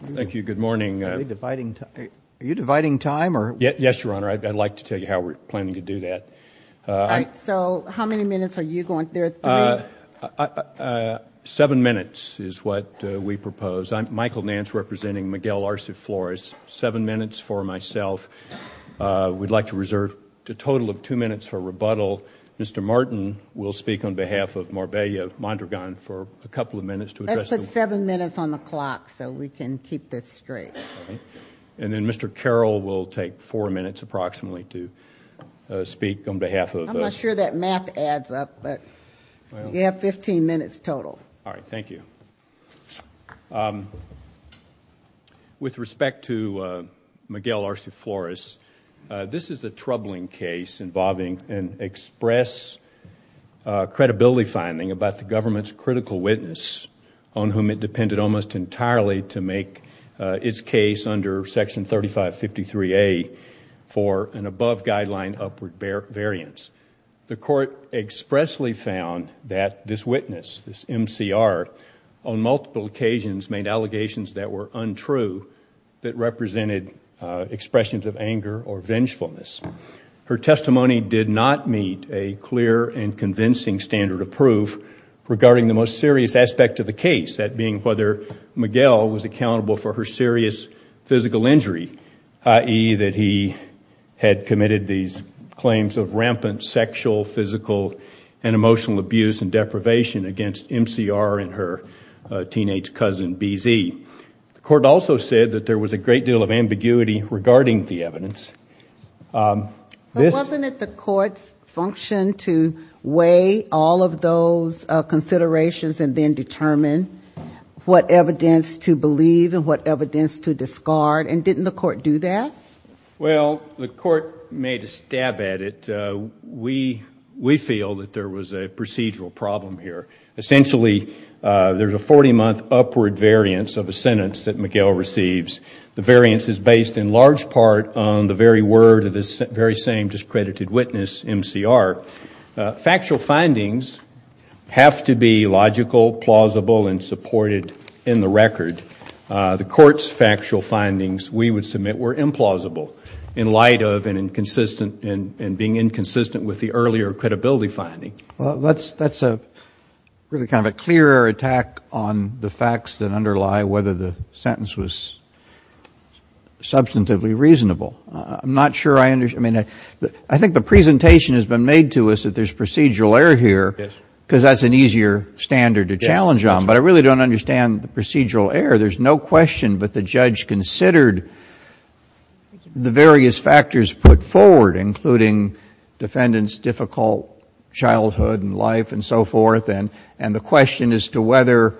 Thank you, good morning. Are we dividing time? Are you dividing time? Yes, Your Honor. I'd like to tell you how we're planning to do that. So, how many minutes are you going? There are three. Seven minutes is what we propose. I'm Michael Nance, representing Miguel Arce Flores. Seven minutes for myself. We'd like to reserve a total of two minutes for rebuttal. Mr. Martin will speak on behalf of Morbella Mondragon for a couple of minutes. Let's put seven minutes on the clock so we can keep this straight. And then Mr. Carroll will take four minutes approximately to speak on behalf of... I'm not sure that math adds up, but you have 15 minutes total. All right, thank you. With respect to Miguel Arce Flores, this is a troubling case involving an express credibility finding about the government's critical witness, on whom it depended almost entirely to make its case under Section 3553A for an above guideline upward variance. The court expressly found that this witness, this MCR, on multiple occasions made allegations that were untrue that represented expressions of anger or vengefulness. Her testimony did not meet a clear and convincing standard of proof regarding the most serious aspect of the case, that being whether Miguel was accountable for her serious physical injury, i.e. that he had committed these claims of rampant sexual, physical, and emotional abuse and deprivation against MCR and her teenage cousin, BZ. The court also said that there was a great deal of ambiguity regarding the evidence. Wasn't it the court's function to weigh all of those considerations and then determine what evidence to believe and what evidence to discard? And didn't the court do that? Well, the court made a stab at it. We feel that there was a procedural problem here. Essentially, there's a 40-month upward variance of a sentence that Miguel receives. The variance is based in large part on the very word of this very same discredited witness, MCR. Factual findings have to be logical, plausible, and supported in the record. The court's factual findings, we would submit, were implausible in light of and being inconsistent with the earlier credibility finding. Well, that's really kind of a clearer attack on the facts that underlie whether the sentence was substantively reasonable. I'm not sure I understand. I think the presentation has been made to us that there's procedural error here because that's an easier standard to challenge on, but I really don't understand the procedural error. There's no question, but the judge considered the various factors put forward, including defendant's difficult childhood and life and so forth, and the question as to whether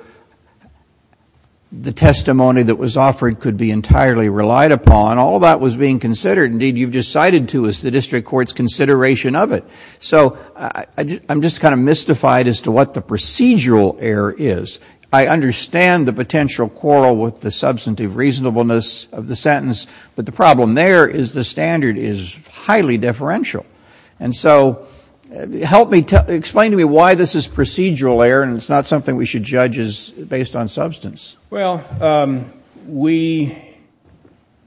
the testimony that was offered could be entirely relied upon. All that was being considered. Indeed, you've just cited to us the district court's consideration of it. So I'm just kind of mystified as to what the procedural error is. I understand the potential quarrel with the substantive reasonableness of the sentence, but the problem there is the standard is highly differential. And so explain to me why this is procedural error and it's not something we should judge as based on substance. Well,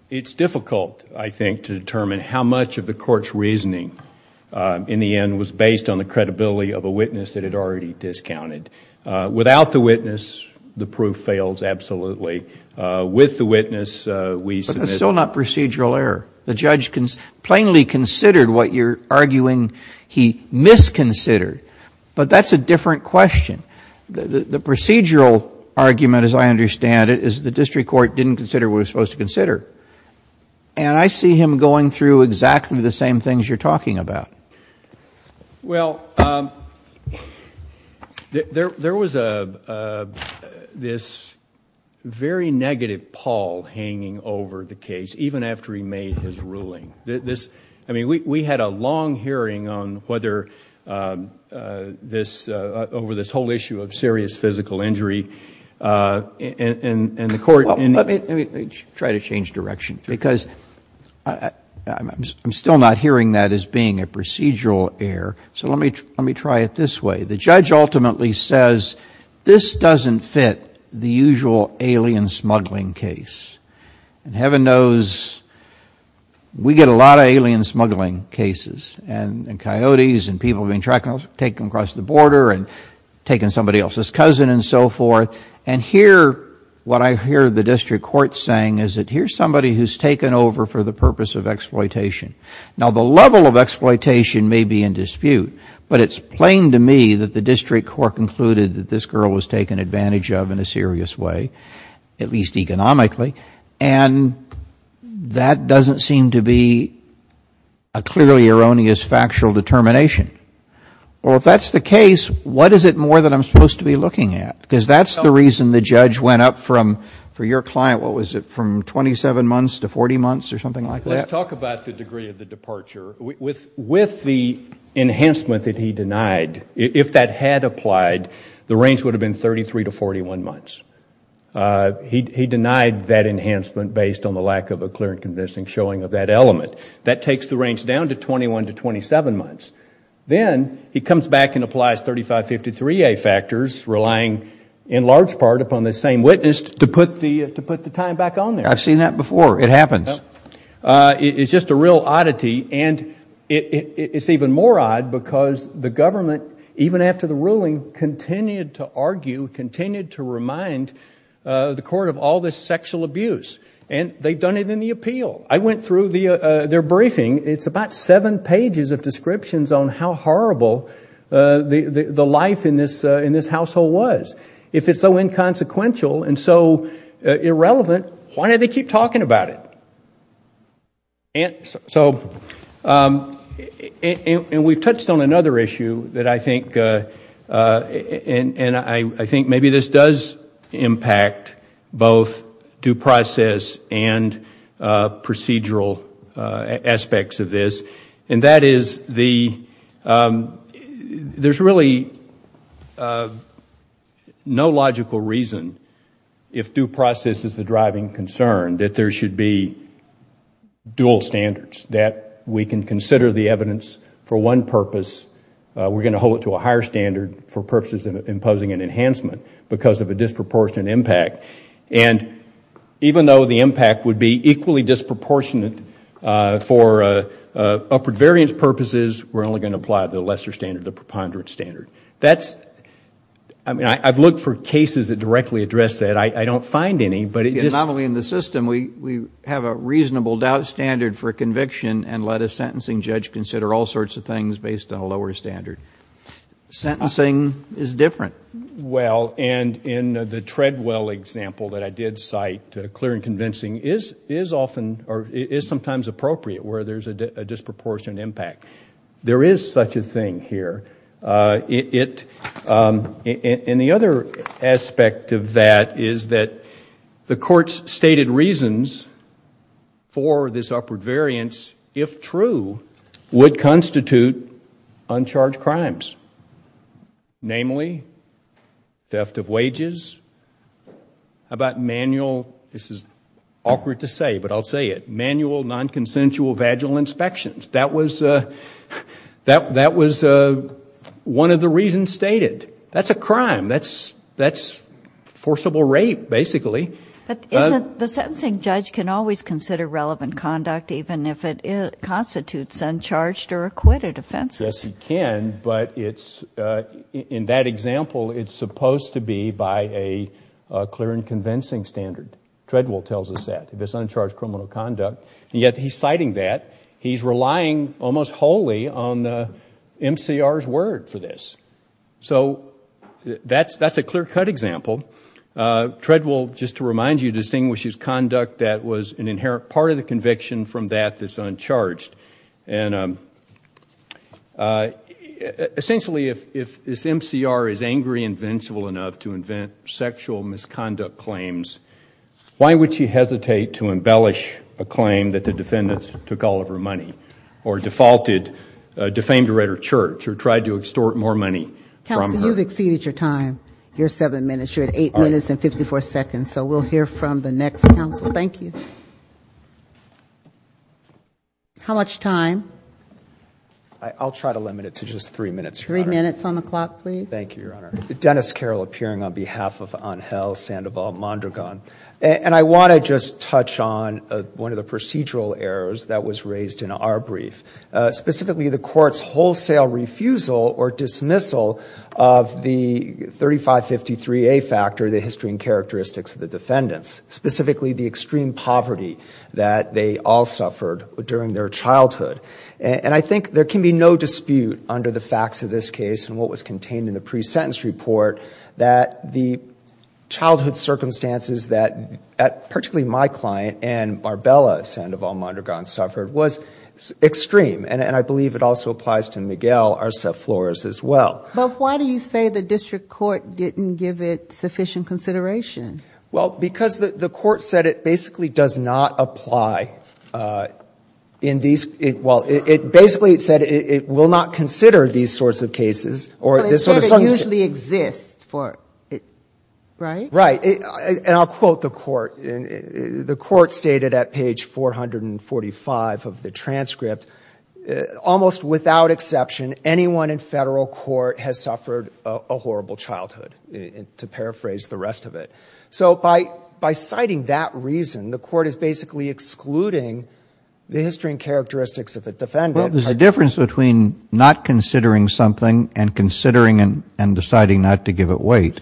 it's difficult, I think, to determine how much of the court's reasoning in the end was based on the credibility of a witness that it already discounted. Without the witness, the proof fails absolutely. With the witness, we submit. But that's still not procedural error. The judge plainly considered what you're arguing he misconsidered. But that's a different question. The procedural argument, as I understand it, is the district court didn't consider what it was supposed to consider. And I see him going through exactly the same things you're talking about. Well, there was this very negative pall hanging over the case, even after he made his ruling. I mean, we had a long hearing on whether this, over this whole issue of serious physical injury, and the court... Let me try to change direction. Because I'm still not hearing that as being a procedural error. So let me try it this way. The judge ultimately says this doesn't fit the usual alien smuggling case. And heaven knows we get a lot of alien smuggling cases and coyotes and people being taken across the border and taking somebody else's cousin and so forth. And here, what I hear the district court saying is that here's somebody who's taken over for the purpose of exploitation. Now, the level of exploitation may be in dispute. But it's plain to me that the district court concluded that this girl was taken advantage of in a serious way, at least economically. And that doesn't seem to be a clearly erroneous factual determination. Well, if that's the case, what is it more that I'm supposed to be looking at? Let's talk about the degree of the departure. With the enhancement that he denied, if that had applied, the range would have been 33 to 41 months. He denied that enhancement based on the lack of a clear and convincing showing of that element. That takes the range down to 21 to 27 months. Then he comes back and applies 3553A factors, relying in large part upon the same witness, just to put the time back on there. I've seen that before. It happens. It's just a real oddity. And it's even more odd because the government, even after the ruling, continued to argue, continued to remind the court of all this sexual abuse. And they've done it in the appeal. I went through their briefing. It's about seven pages of descriptions on how horrible the life in this household was. If it's so inconsequential and so irrelevant, why do they keep talking about it? We've touched on another issue. I think maybe this does impact both due process and procedural aspects of this. That is, there's really no logical reason, if due process is the driving concern, that there should be dual standards, that we can consider the evidence for one purpose. We're going to hold it to a higher standard for purposes of imposing an enhancement because of a disproportionate impact. And even though the impact would be equally disproportionate for upward variance purposes, we're only going to apply the lesser standard, the preponderance standard. That's, I mean, I've looked for cases that directly address that. I don't find any. Not only in the system. We have a reasonable doubt standard for conviction and let a sentencing judge consider all sorts of things based on a lower standard. Sentencing is different. Well, and in the Treadwell example that I did cite, clear and convincing is sometimes appropriate where there's a disproportionate impact. There is such a thing here. And the other aspect of that is that the court's stated reasons for this upward variance, if true, would constitute uncharged crimes. Namely, theft of wages. How about manual, this is awkward to say, but I'll say it, manual non-consensual vaginal inspections. That was one of the reasons stated. That's a crime. That's forcible rape, basically. But isn't the sentencing judge can always consider relevant conduct even if it constitutes uncharged or acquitted offenses? Yes, he can. But in that example, it's supposed to be by a clear and convincing standard. Treadwell tells us that, this uncharged criminal conduct. And yet he's citing that. He's relying almost wholly on MCR's word for this. So that's a clear-cut example. Treadwell, just to remind you, distinguishes conduct that was an inherent part of the conviction from that that's uncharged. And essentially, if this MCR is angry and vengeful enough to invent sexual misconduct claims, why would she hesitate to embellish a claim that the defendants took all of her money or defamed her at her church or tried to extort more money from her? Counsel, you've exceeded your time. You're seven minutes. You're at eight minutes and 54 seconds. So we'll hear from the next counsel. Thank you. How much time? I'll try to limit it to just three minutes, Your Honor. Three minutes on the clock, please. Thank you, Your Honor. Dennis Carroll, appearing on behalf of Angel Sandoval Mondragon. And I want to just touch on one of the procedural errors that was raised in our brief, specifically the court's wholesale refusal or dismissal of the 3553A factor, the history and characteristics of the defendants, specifically the extreme poverty that they all suffered during their childhood. And I think there can be no dispute under the facts of this case and what was contained in the pre-sentence report that the childhood circumstances that particularly my client and Marbella Sandoval Mondragon suffered was extreme. And I believe it also applies to Miguel Arce Flores as well. But why do you say the district court didn't give it sufficient consideration? Well, because the court said it basically does not apply in these – well, basically it said it will not consider these sorts of cases. But it said it usually exists, right? Right. And I'll quote the court. The court stated at page 445 of the transcript, almost without exception anyone in federal court has suffered a horrible childhood, to paraphrase the rest of it. So by citing that reason, the court is basically excluding the history and characteristics of the defendant. Well, there's a difference between not considering something and considering and deciding not to give it weight.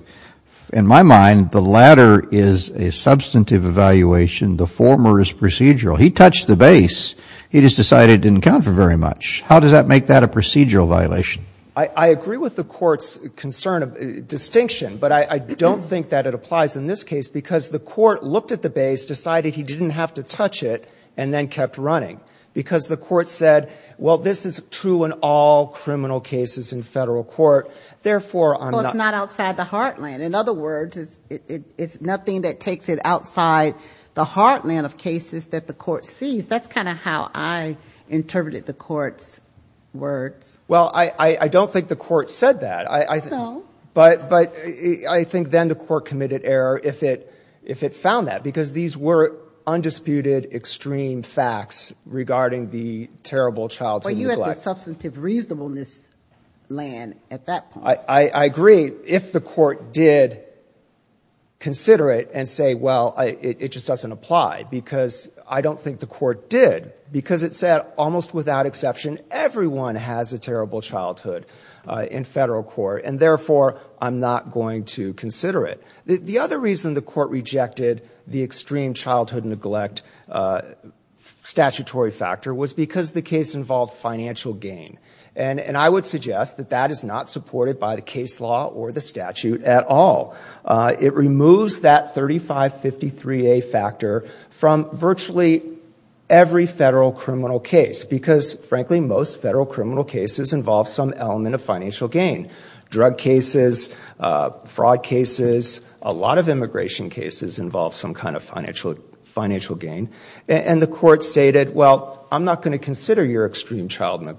In my mind, the latter is a substantive evaluation. The former is procedural. He touched the base. He just decided it didn't count for very much. How does that make that a procedural violation? I agree with the court's concern of distinction, but I don't think that it applies in this case because the court looked at the base, decided he didn't have to touch it, and then kept running because the court said, well, this is true in all criminal cases in federal court. Therefore, I'm not – Well, it's not outside the heartland. In other words, it's nothing that takes it outside the heartland of cases that the court sees. That's kind of how I interpreted the court's words. Well, I don't think the court said that. No. But I think then the court committed error if it found that because these were undisputed, extreme facts regarding the terrible childhood neglect. But you had the substantive reasonableness land at that point. I agree. If the court did consider it and say, well, it just doesn't apply because I don't think the court did because it said, almost without exception, everyone has a terrible childhood in federal court, and therefore I'm not going to consider it. The other reason the court rejected the extreme childhood neglect statutory factor was because the case involved financial gain. And I would suggest that that is not supported by the case law or the statute at all. It removes that 3553A factor from virtually every federal criminal case because, frankly, most federal criminal cases involve some element of financial gain. Drug cases, fraud cases, a lot of immigration cases involve some kind of financial gain. And the court stated, well, I'm not going to consider your extreme childhood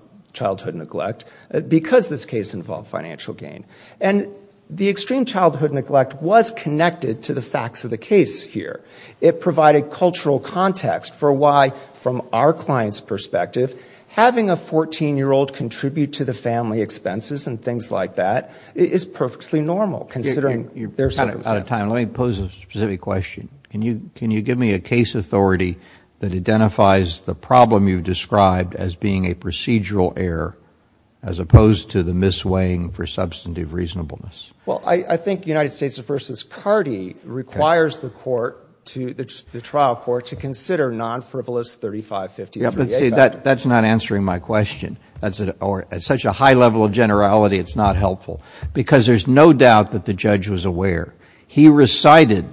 neglect because this case involved financial gain. And the extreme childhood neglect was connected to the facts of the case here. It provided cultural context for why, from our client's perspective, having a 14-year-old contribute to the family expenses and things like that is perfectly normal, considering their circumstances. You're kind of out of time. Let me pose a specific question. Can you give me a case authority that identifies the problem you've described as being a procedural error as opposed to the misweighing for substantive reasonableness? Well, I think United States v. Cardi requires the trial court to consider non-frivolous 3553A factors. That's not answering my question. At such a high level of generality, it's not helpful. Because there's no doubt that the judge was aware. He recited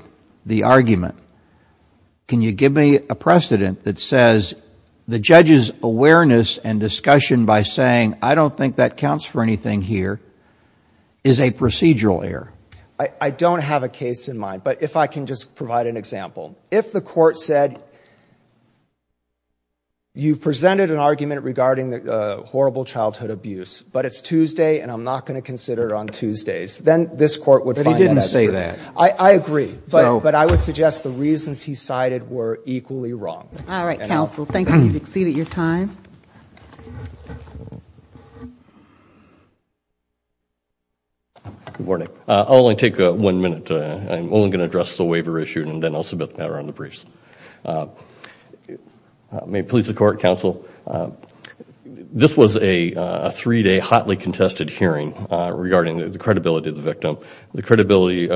the argument. Can you give me a precedent that says the judge's awareness and discussion by saying, I don't think that counts for anything here, is a procedural error? I don't have a case in mind. But if I can just provide an example. If the court said you presented an argument regarding the horrible childhood abuse, but it's Tuesday and I'm not going to consider it on Tuesdays, then this court would find that. But he didn't say that. I agree. But I would suggest the reasons he cited were equally wrong. All right, counsel. Thank you. You've exceeded your time. Good morning. I'll only take one minute. I'm only going to address the waiver issue and then I'll submit the matter on the briefs. May it please the court, counsel. The credibility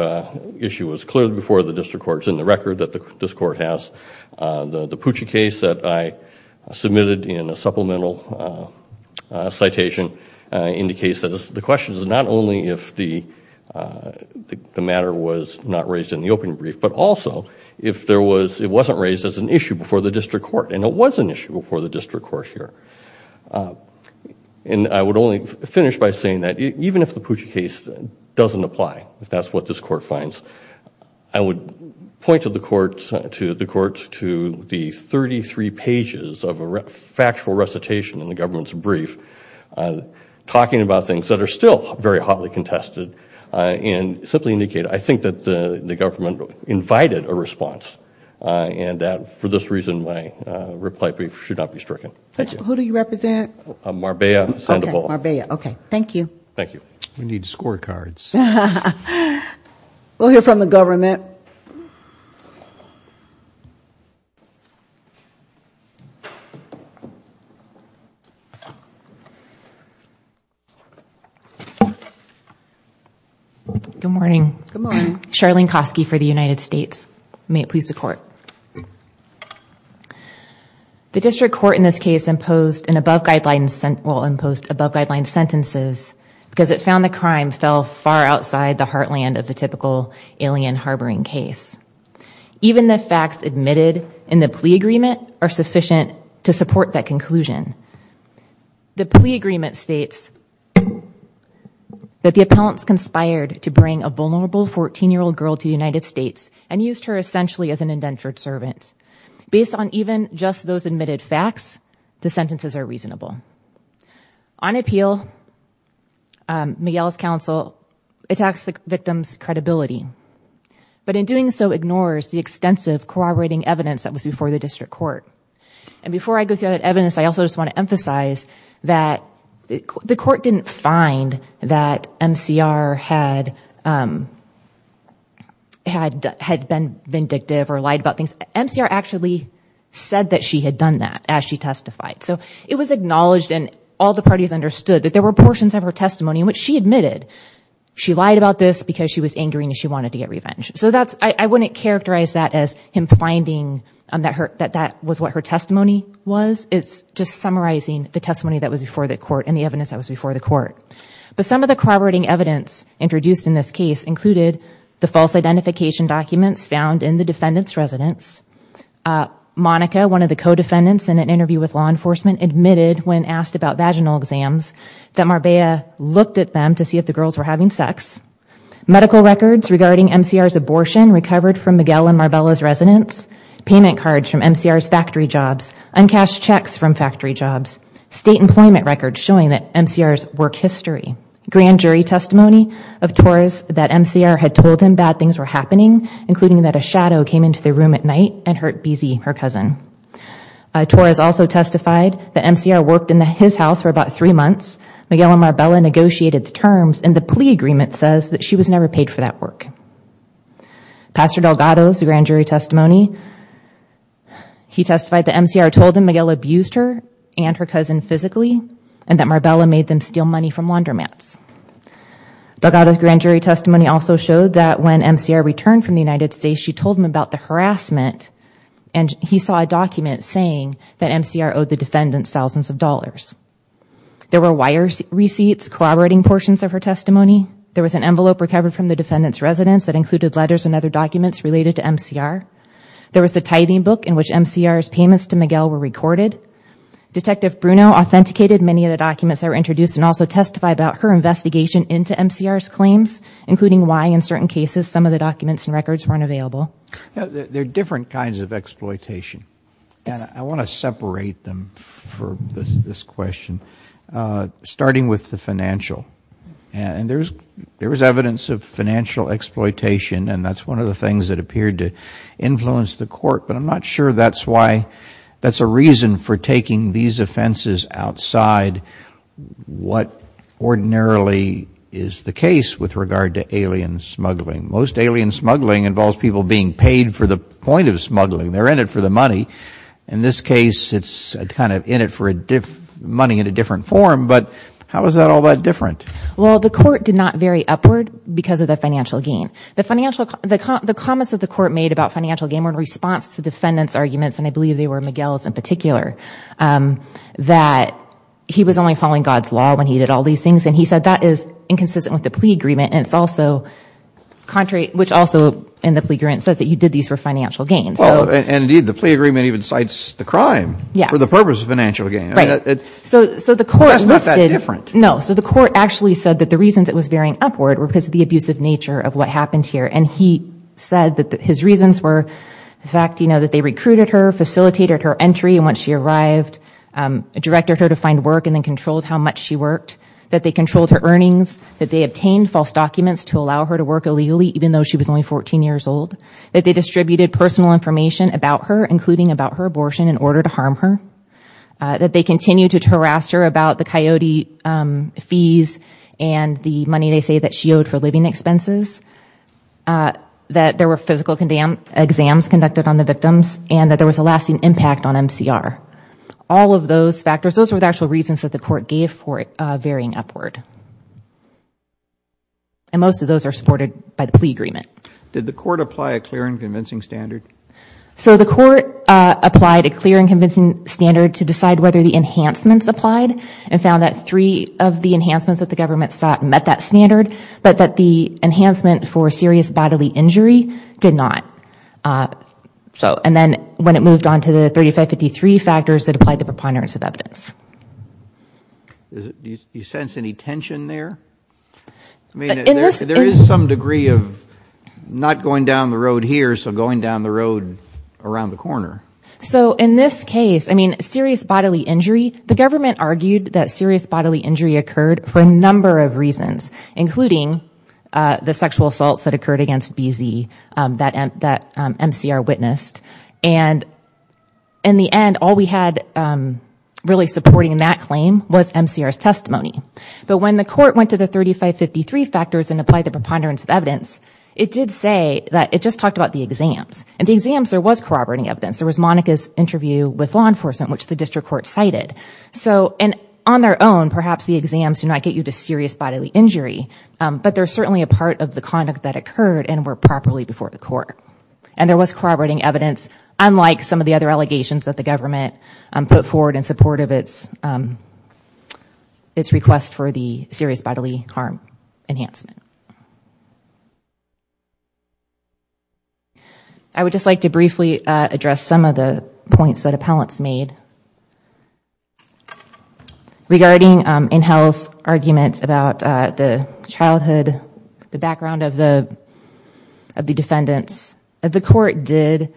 issue was cleared before the district court. It's in the record that this court has. The Pucci case that I submitted in a supplemental citation indicates that the question is not only if the matter was not raised in the opening brief, but also if it wasn't raised as an issue before the district court. And it was an issue before the district court here. And I would only finish by saying that even if the Pucci case doesn't apply, if that's what this court finds, I would point the courts to the 33 pages of a factual recitation in the government's brief, talking about things that are still very hotly contested and simply indicate I think that the government invited a response and that for this reason my reply brief should not be stricken. Thank you. Who do you represent? Marbella Sandoval. Marbella. Okay. Thank you. Thank you. We need scorecards. We'll hear from the government. Good morning. Good morning. Charlene Kosky for the United States. May it please the court. The district court in this case imposed an above guideline, well imposed above guideline sentences because it found the crime fell far outside the heartland of the typical alien harboring case. Even the facts admitted in the plea agreement are sufficient to support that conclusion. The plea agreement states that the appellants conspired to bring a vulnerable 14-year-old girl to the United States and used her essentially as an indentured servant. Based on even just those admitted facts, the sentences are reasonable. On appeal, Miguel's counsel attacks the victim's credibility, but in doing so ignores the extensive corroborating evidence that was before the district court. Before I go through that evidence, I also just want to emphasize that the court didn't find that MCR had been vindictive or lied about things. MCR actually said that she had done that as she testified. It was acknowledged and all the parties understood that there were portions of her testimony in which she admitted she lied about this because she was angry and she wanted to get revenge. So I wouldn't characterize that as him finding that that was what her testimony was. It's just summarizing the testimony that was before the court and the evidence that was before the court. But some of the corroborating evidence introduced in this case included the false identification documents found in the defendant's residence. Monica, one of the co-defendants in an interview with law enforcement, admitted when asked about vaginal exams that Marbella looked at them to see if the girls were having sex. Medical records regarding MCR's abortion recovered from Miguel and Marbella's residence. Payment cards from MCR's factory jobs. Uncashed checks from factory jobs. State employment records showing that MCR's work history. Grand jury testimony of Torres that MCR had told him bad things were happening, including that a shadow came into the room at night and hurt BZ, her cousin. Torres also testified that MCR worked in his house for about three months. Miguel and Marbella negotiated the terms and the plea agreement says that she was never paid for that work. Pastor Delgado's grand jury testimony, he testified that MCR told him Miguel abused her and her cousin physically and that Marbella made them steal money from laundromats. Delgado's grand jury testimony also showed that when MCR returned from the United States, she told him about the harassment and he saw a document saying that MCR owed the defendants thousands of dollars. There were wire receipts, collaborating portions of her testimony. There was an envelope recovered from the defendant's residence that included letters and other documents related to MCR. There was the tithing book in which MCR's payments to Miguel were recorded. Detective Bruno authenticated many of the documents that were introduced and also testified about her investigation into MCR's claims, including why in certain cases some of the documents and records weren't available. There are different kinds of exploitation and I want to separate them for this question, starting with the financial. And there was evidence of financial exploitation and that's one of the things that appeared to influence the court, but I'm not sure that's a reason for taking these offenses outside what ordinarily is the case with regard to alien smuggling. Most alien smuggling involves people being paid for the point of smuggling. They're in it for the money. In this case, it's kind of in it for money in a different form, but how is that all that different? Well, the court did not vary upward because of the financial gain. The comments that the court made about financial gain were in response to defendants' arguments, and I believe they were Miguel's in particular, that he was only following God's law when he did all these things and he said that is inconsistent with the plea agreement and it's also contrary, which also in the plea agreement says that you did these for financial gain. Indeed, the plea agreement even cites the crime for the purpose of financial gain. Right. That's not that different. No. So the court actually said that the reasons it was varying upward were because of the abusive nature of what happened here and he said that his reasons were the fact that they recruited her, facilitated her entry, and once she arrived, directed her to find work and then controlled how much she worked, that they controlled her earnings, that they obtained false documents to allow her to work illegally even though she was only 14 years old, that they distributed personal information about her, including about her abortion, in order to harm her, that they continued to harass her about the Coyote fees and the money they say that she owed for living expenses, that there were physical exams conducted on the victims, and that there was a lasting impact on MCR. All of those factors, those were the actual reasons that the court gave for it varying upward. And most of those are supported by the plea agreement. Did the court apply a clear and convincing standard? So the court applied a clear and convincing standard to decide whether the enhancements applied and found that three of the enhancements that the government sought met that standard, but that the enhancement for serious bodily injury did not. And then when it moved on to the 3553 factors, it applied the preponderance of evidence. Do you sense any tension there? There is some degree of not going down the road here, so going down the road around the corner. So in this case, serious bodily injury, the government argued that serious bodily injury occurred for a number of reasons, including the sexual assaults that occurred against BZ that MCR witnessed. And in the end, all we had really supporting that claim was MCR's testimony. But when the court went to the 3553 factors and applied the preponderance of evidence, it did say that it just talked about the exams. And the exams, there was corroborating evidence. There was Monica's interview with law enforcement, which the district court cited. And on their own, perhaps the exams do not get you to serious bodily injury, but they're certainly a part of the conduct that occurred and were properly before the court. And there was corroborating evidence, unlike some of the other allegations that the government put forward in support of its request for the serious bodily harm enhancement. I would just like to briefly address some of the points that appellants made. Regarding Inhell's argument about the childhood, the background of the defendants, the court did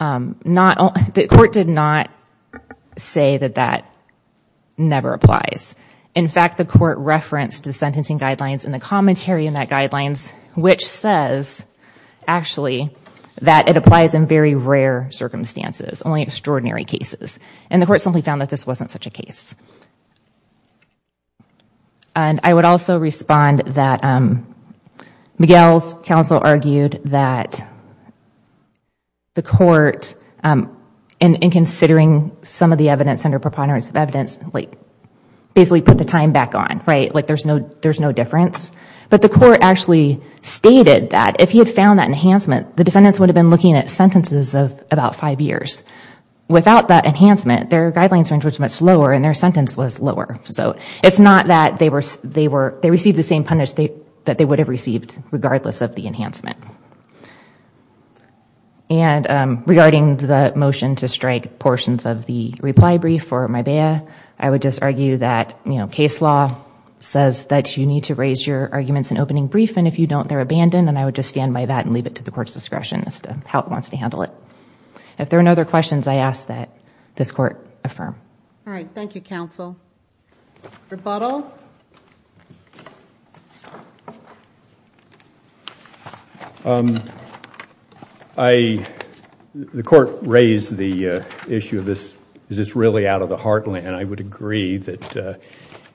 not say that that never applies. In fact, the court referenced the sentencing guidelines and the commentary in that guidelines, which says, actually, that it applies in very rare circumstances, only extraordinary cases. And the court simply found that this wasn't such a case. And I would also respond that Miguel's counsel argued that the court, in considering some of the evidence under preponderance of evidence, basically put the time back on. There's no difference. But the court actually stated that if he had found that enhancement, the defendants would have been looking at sentences of about five years. Without that enhancement, their guidelines range was much lower and their sentence was lower. It's not that they received the same punishment that they would have received, regardless of the enhancement. And regarding the motion to strike portions of the reply brief for Mybea, I would just argue that case law says that you need to raise your arguments in opening brief, and if you don't, they're abandoned. And I would just stand by that and leave it to the court's discretion as to how it wants to handle it. If there are no other questions, I ask that this court affirm. All right. Thank you, counsel. Rebuttal. The court raised the issue of is this really out of the heartland, and I would agree that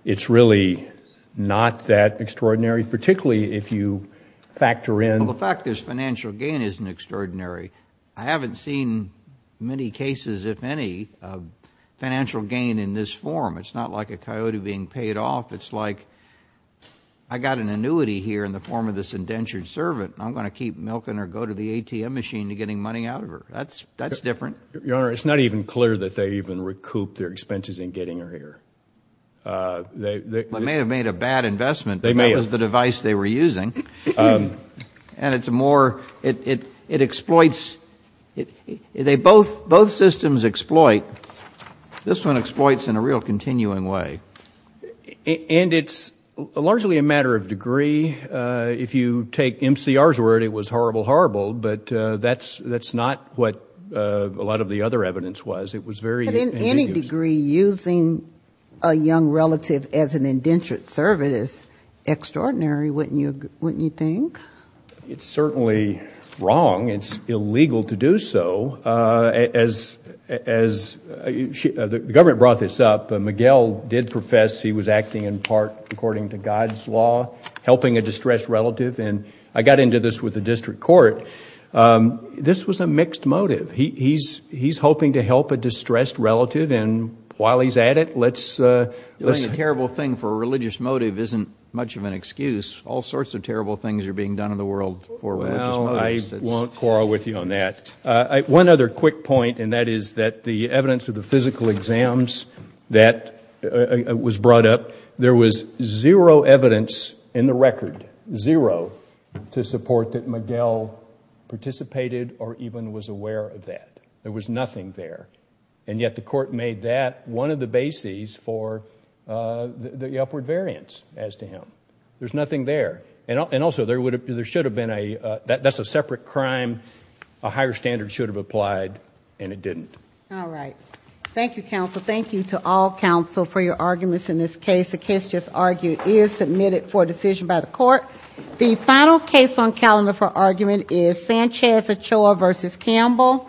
it's really not that extraordinary, particularly if you factor in. Well, the fact is financial gain isn't extraordinary. I haven't seen many cases, if any, of financial gain in this form. It's not like a coyote being paid off. It's like I got an annuity here in the form of this indentured servant, and I'm going to keep milking her, go to the ATM machine to get money out of her. That's different. Your Honor, it's not even clear that they even recouped their expenses in getting her here. They may have made a bad investment. They may have. That was the device they were using. And it's more, it exploits, they both, both systems exploit. This one exploits in a real continuing way. And it's largely a matter of degree. If you take MCR's word, it was horrible, horrible, but that's not what a lot of the other evidence was. But in any degree, using a young relative as an indentured servant is extraordinary, wouldn't you think? It's certainly wrong. It's illegal to do so. As the government brought this up, Miguel did profess he was acting in part according to God's law, helping a distressed relative. And I got into this with the district court. This was a mixed motive. He's hoping to help a distressed relative, and while he's at it, let's... Doing a terrible thing for a religious motive isn't much of an excuse. All sorts of terrible things are being done in the world for religious motives. Well, I won't quarrel with you on that. One other quick point, and that is that the evidence of the physical exams that was brought up, there was zero evidence in the record, zero, to support that Miguel participated or even was aware of that. There was nothing there. And yet the court made that one of the bases for the upward variance as to him. There's nothing there. And also, there should have been a... that's a separate crime. A higher standard should have applied, and it didn't. All right. Thank you, counsel. Thank you to all counsel for your arguments in this case. The case just argued is submitted for decision by the court. The final case on calendar for argument is Sanchez-Ochoa v. Campbell.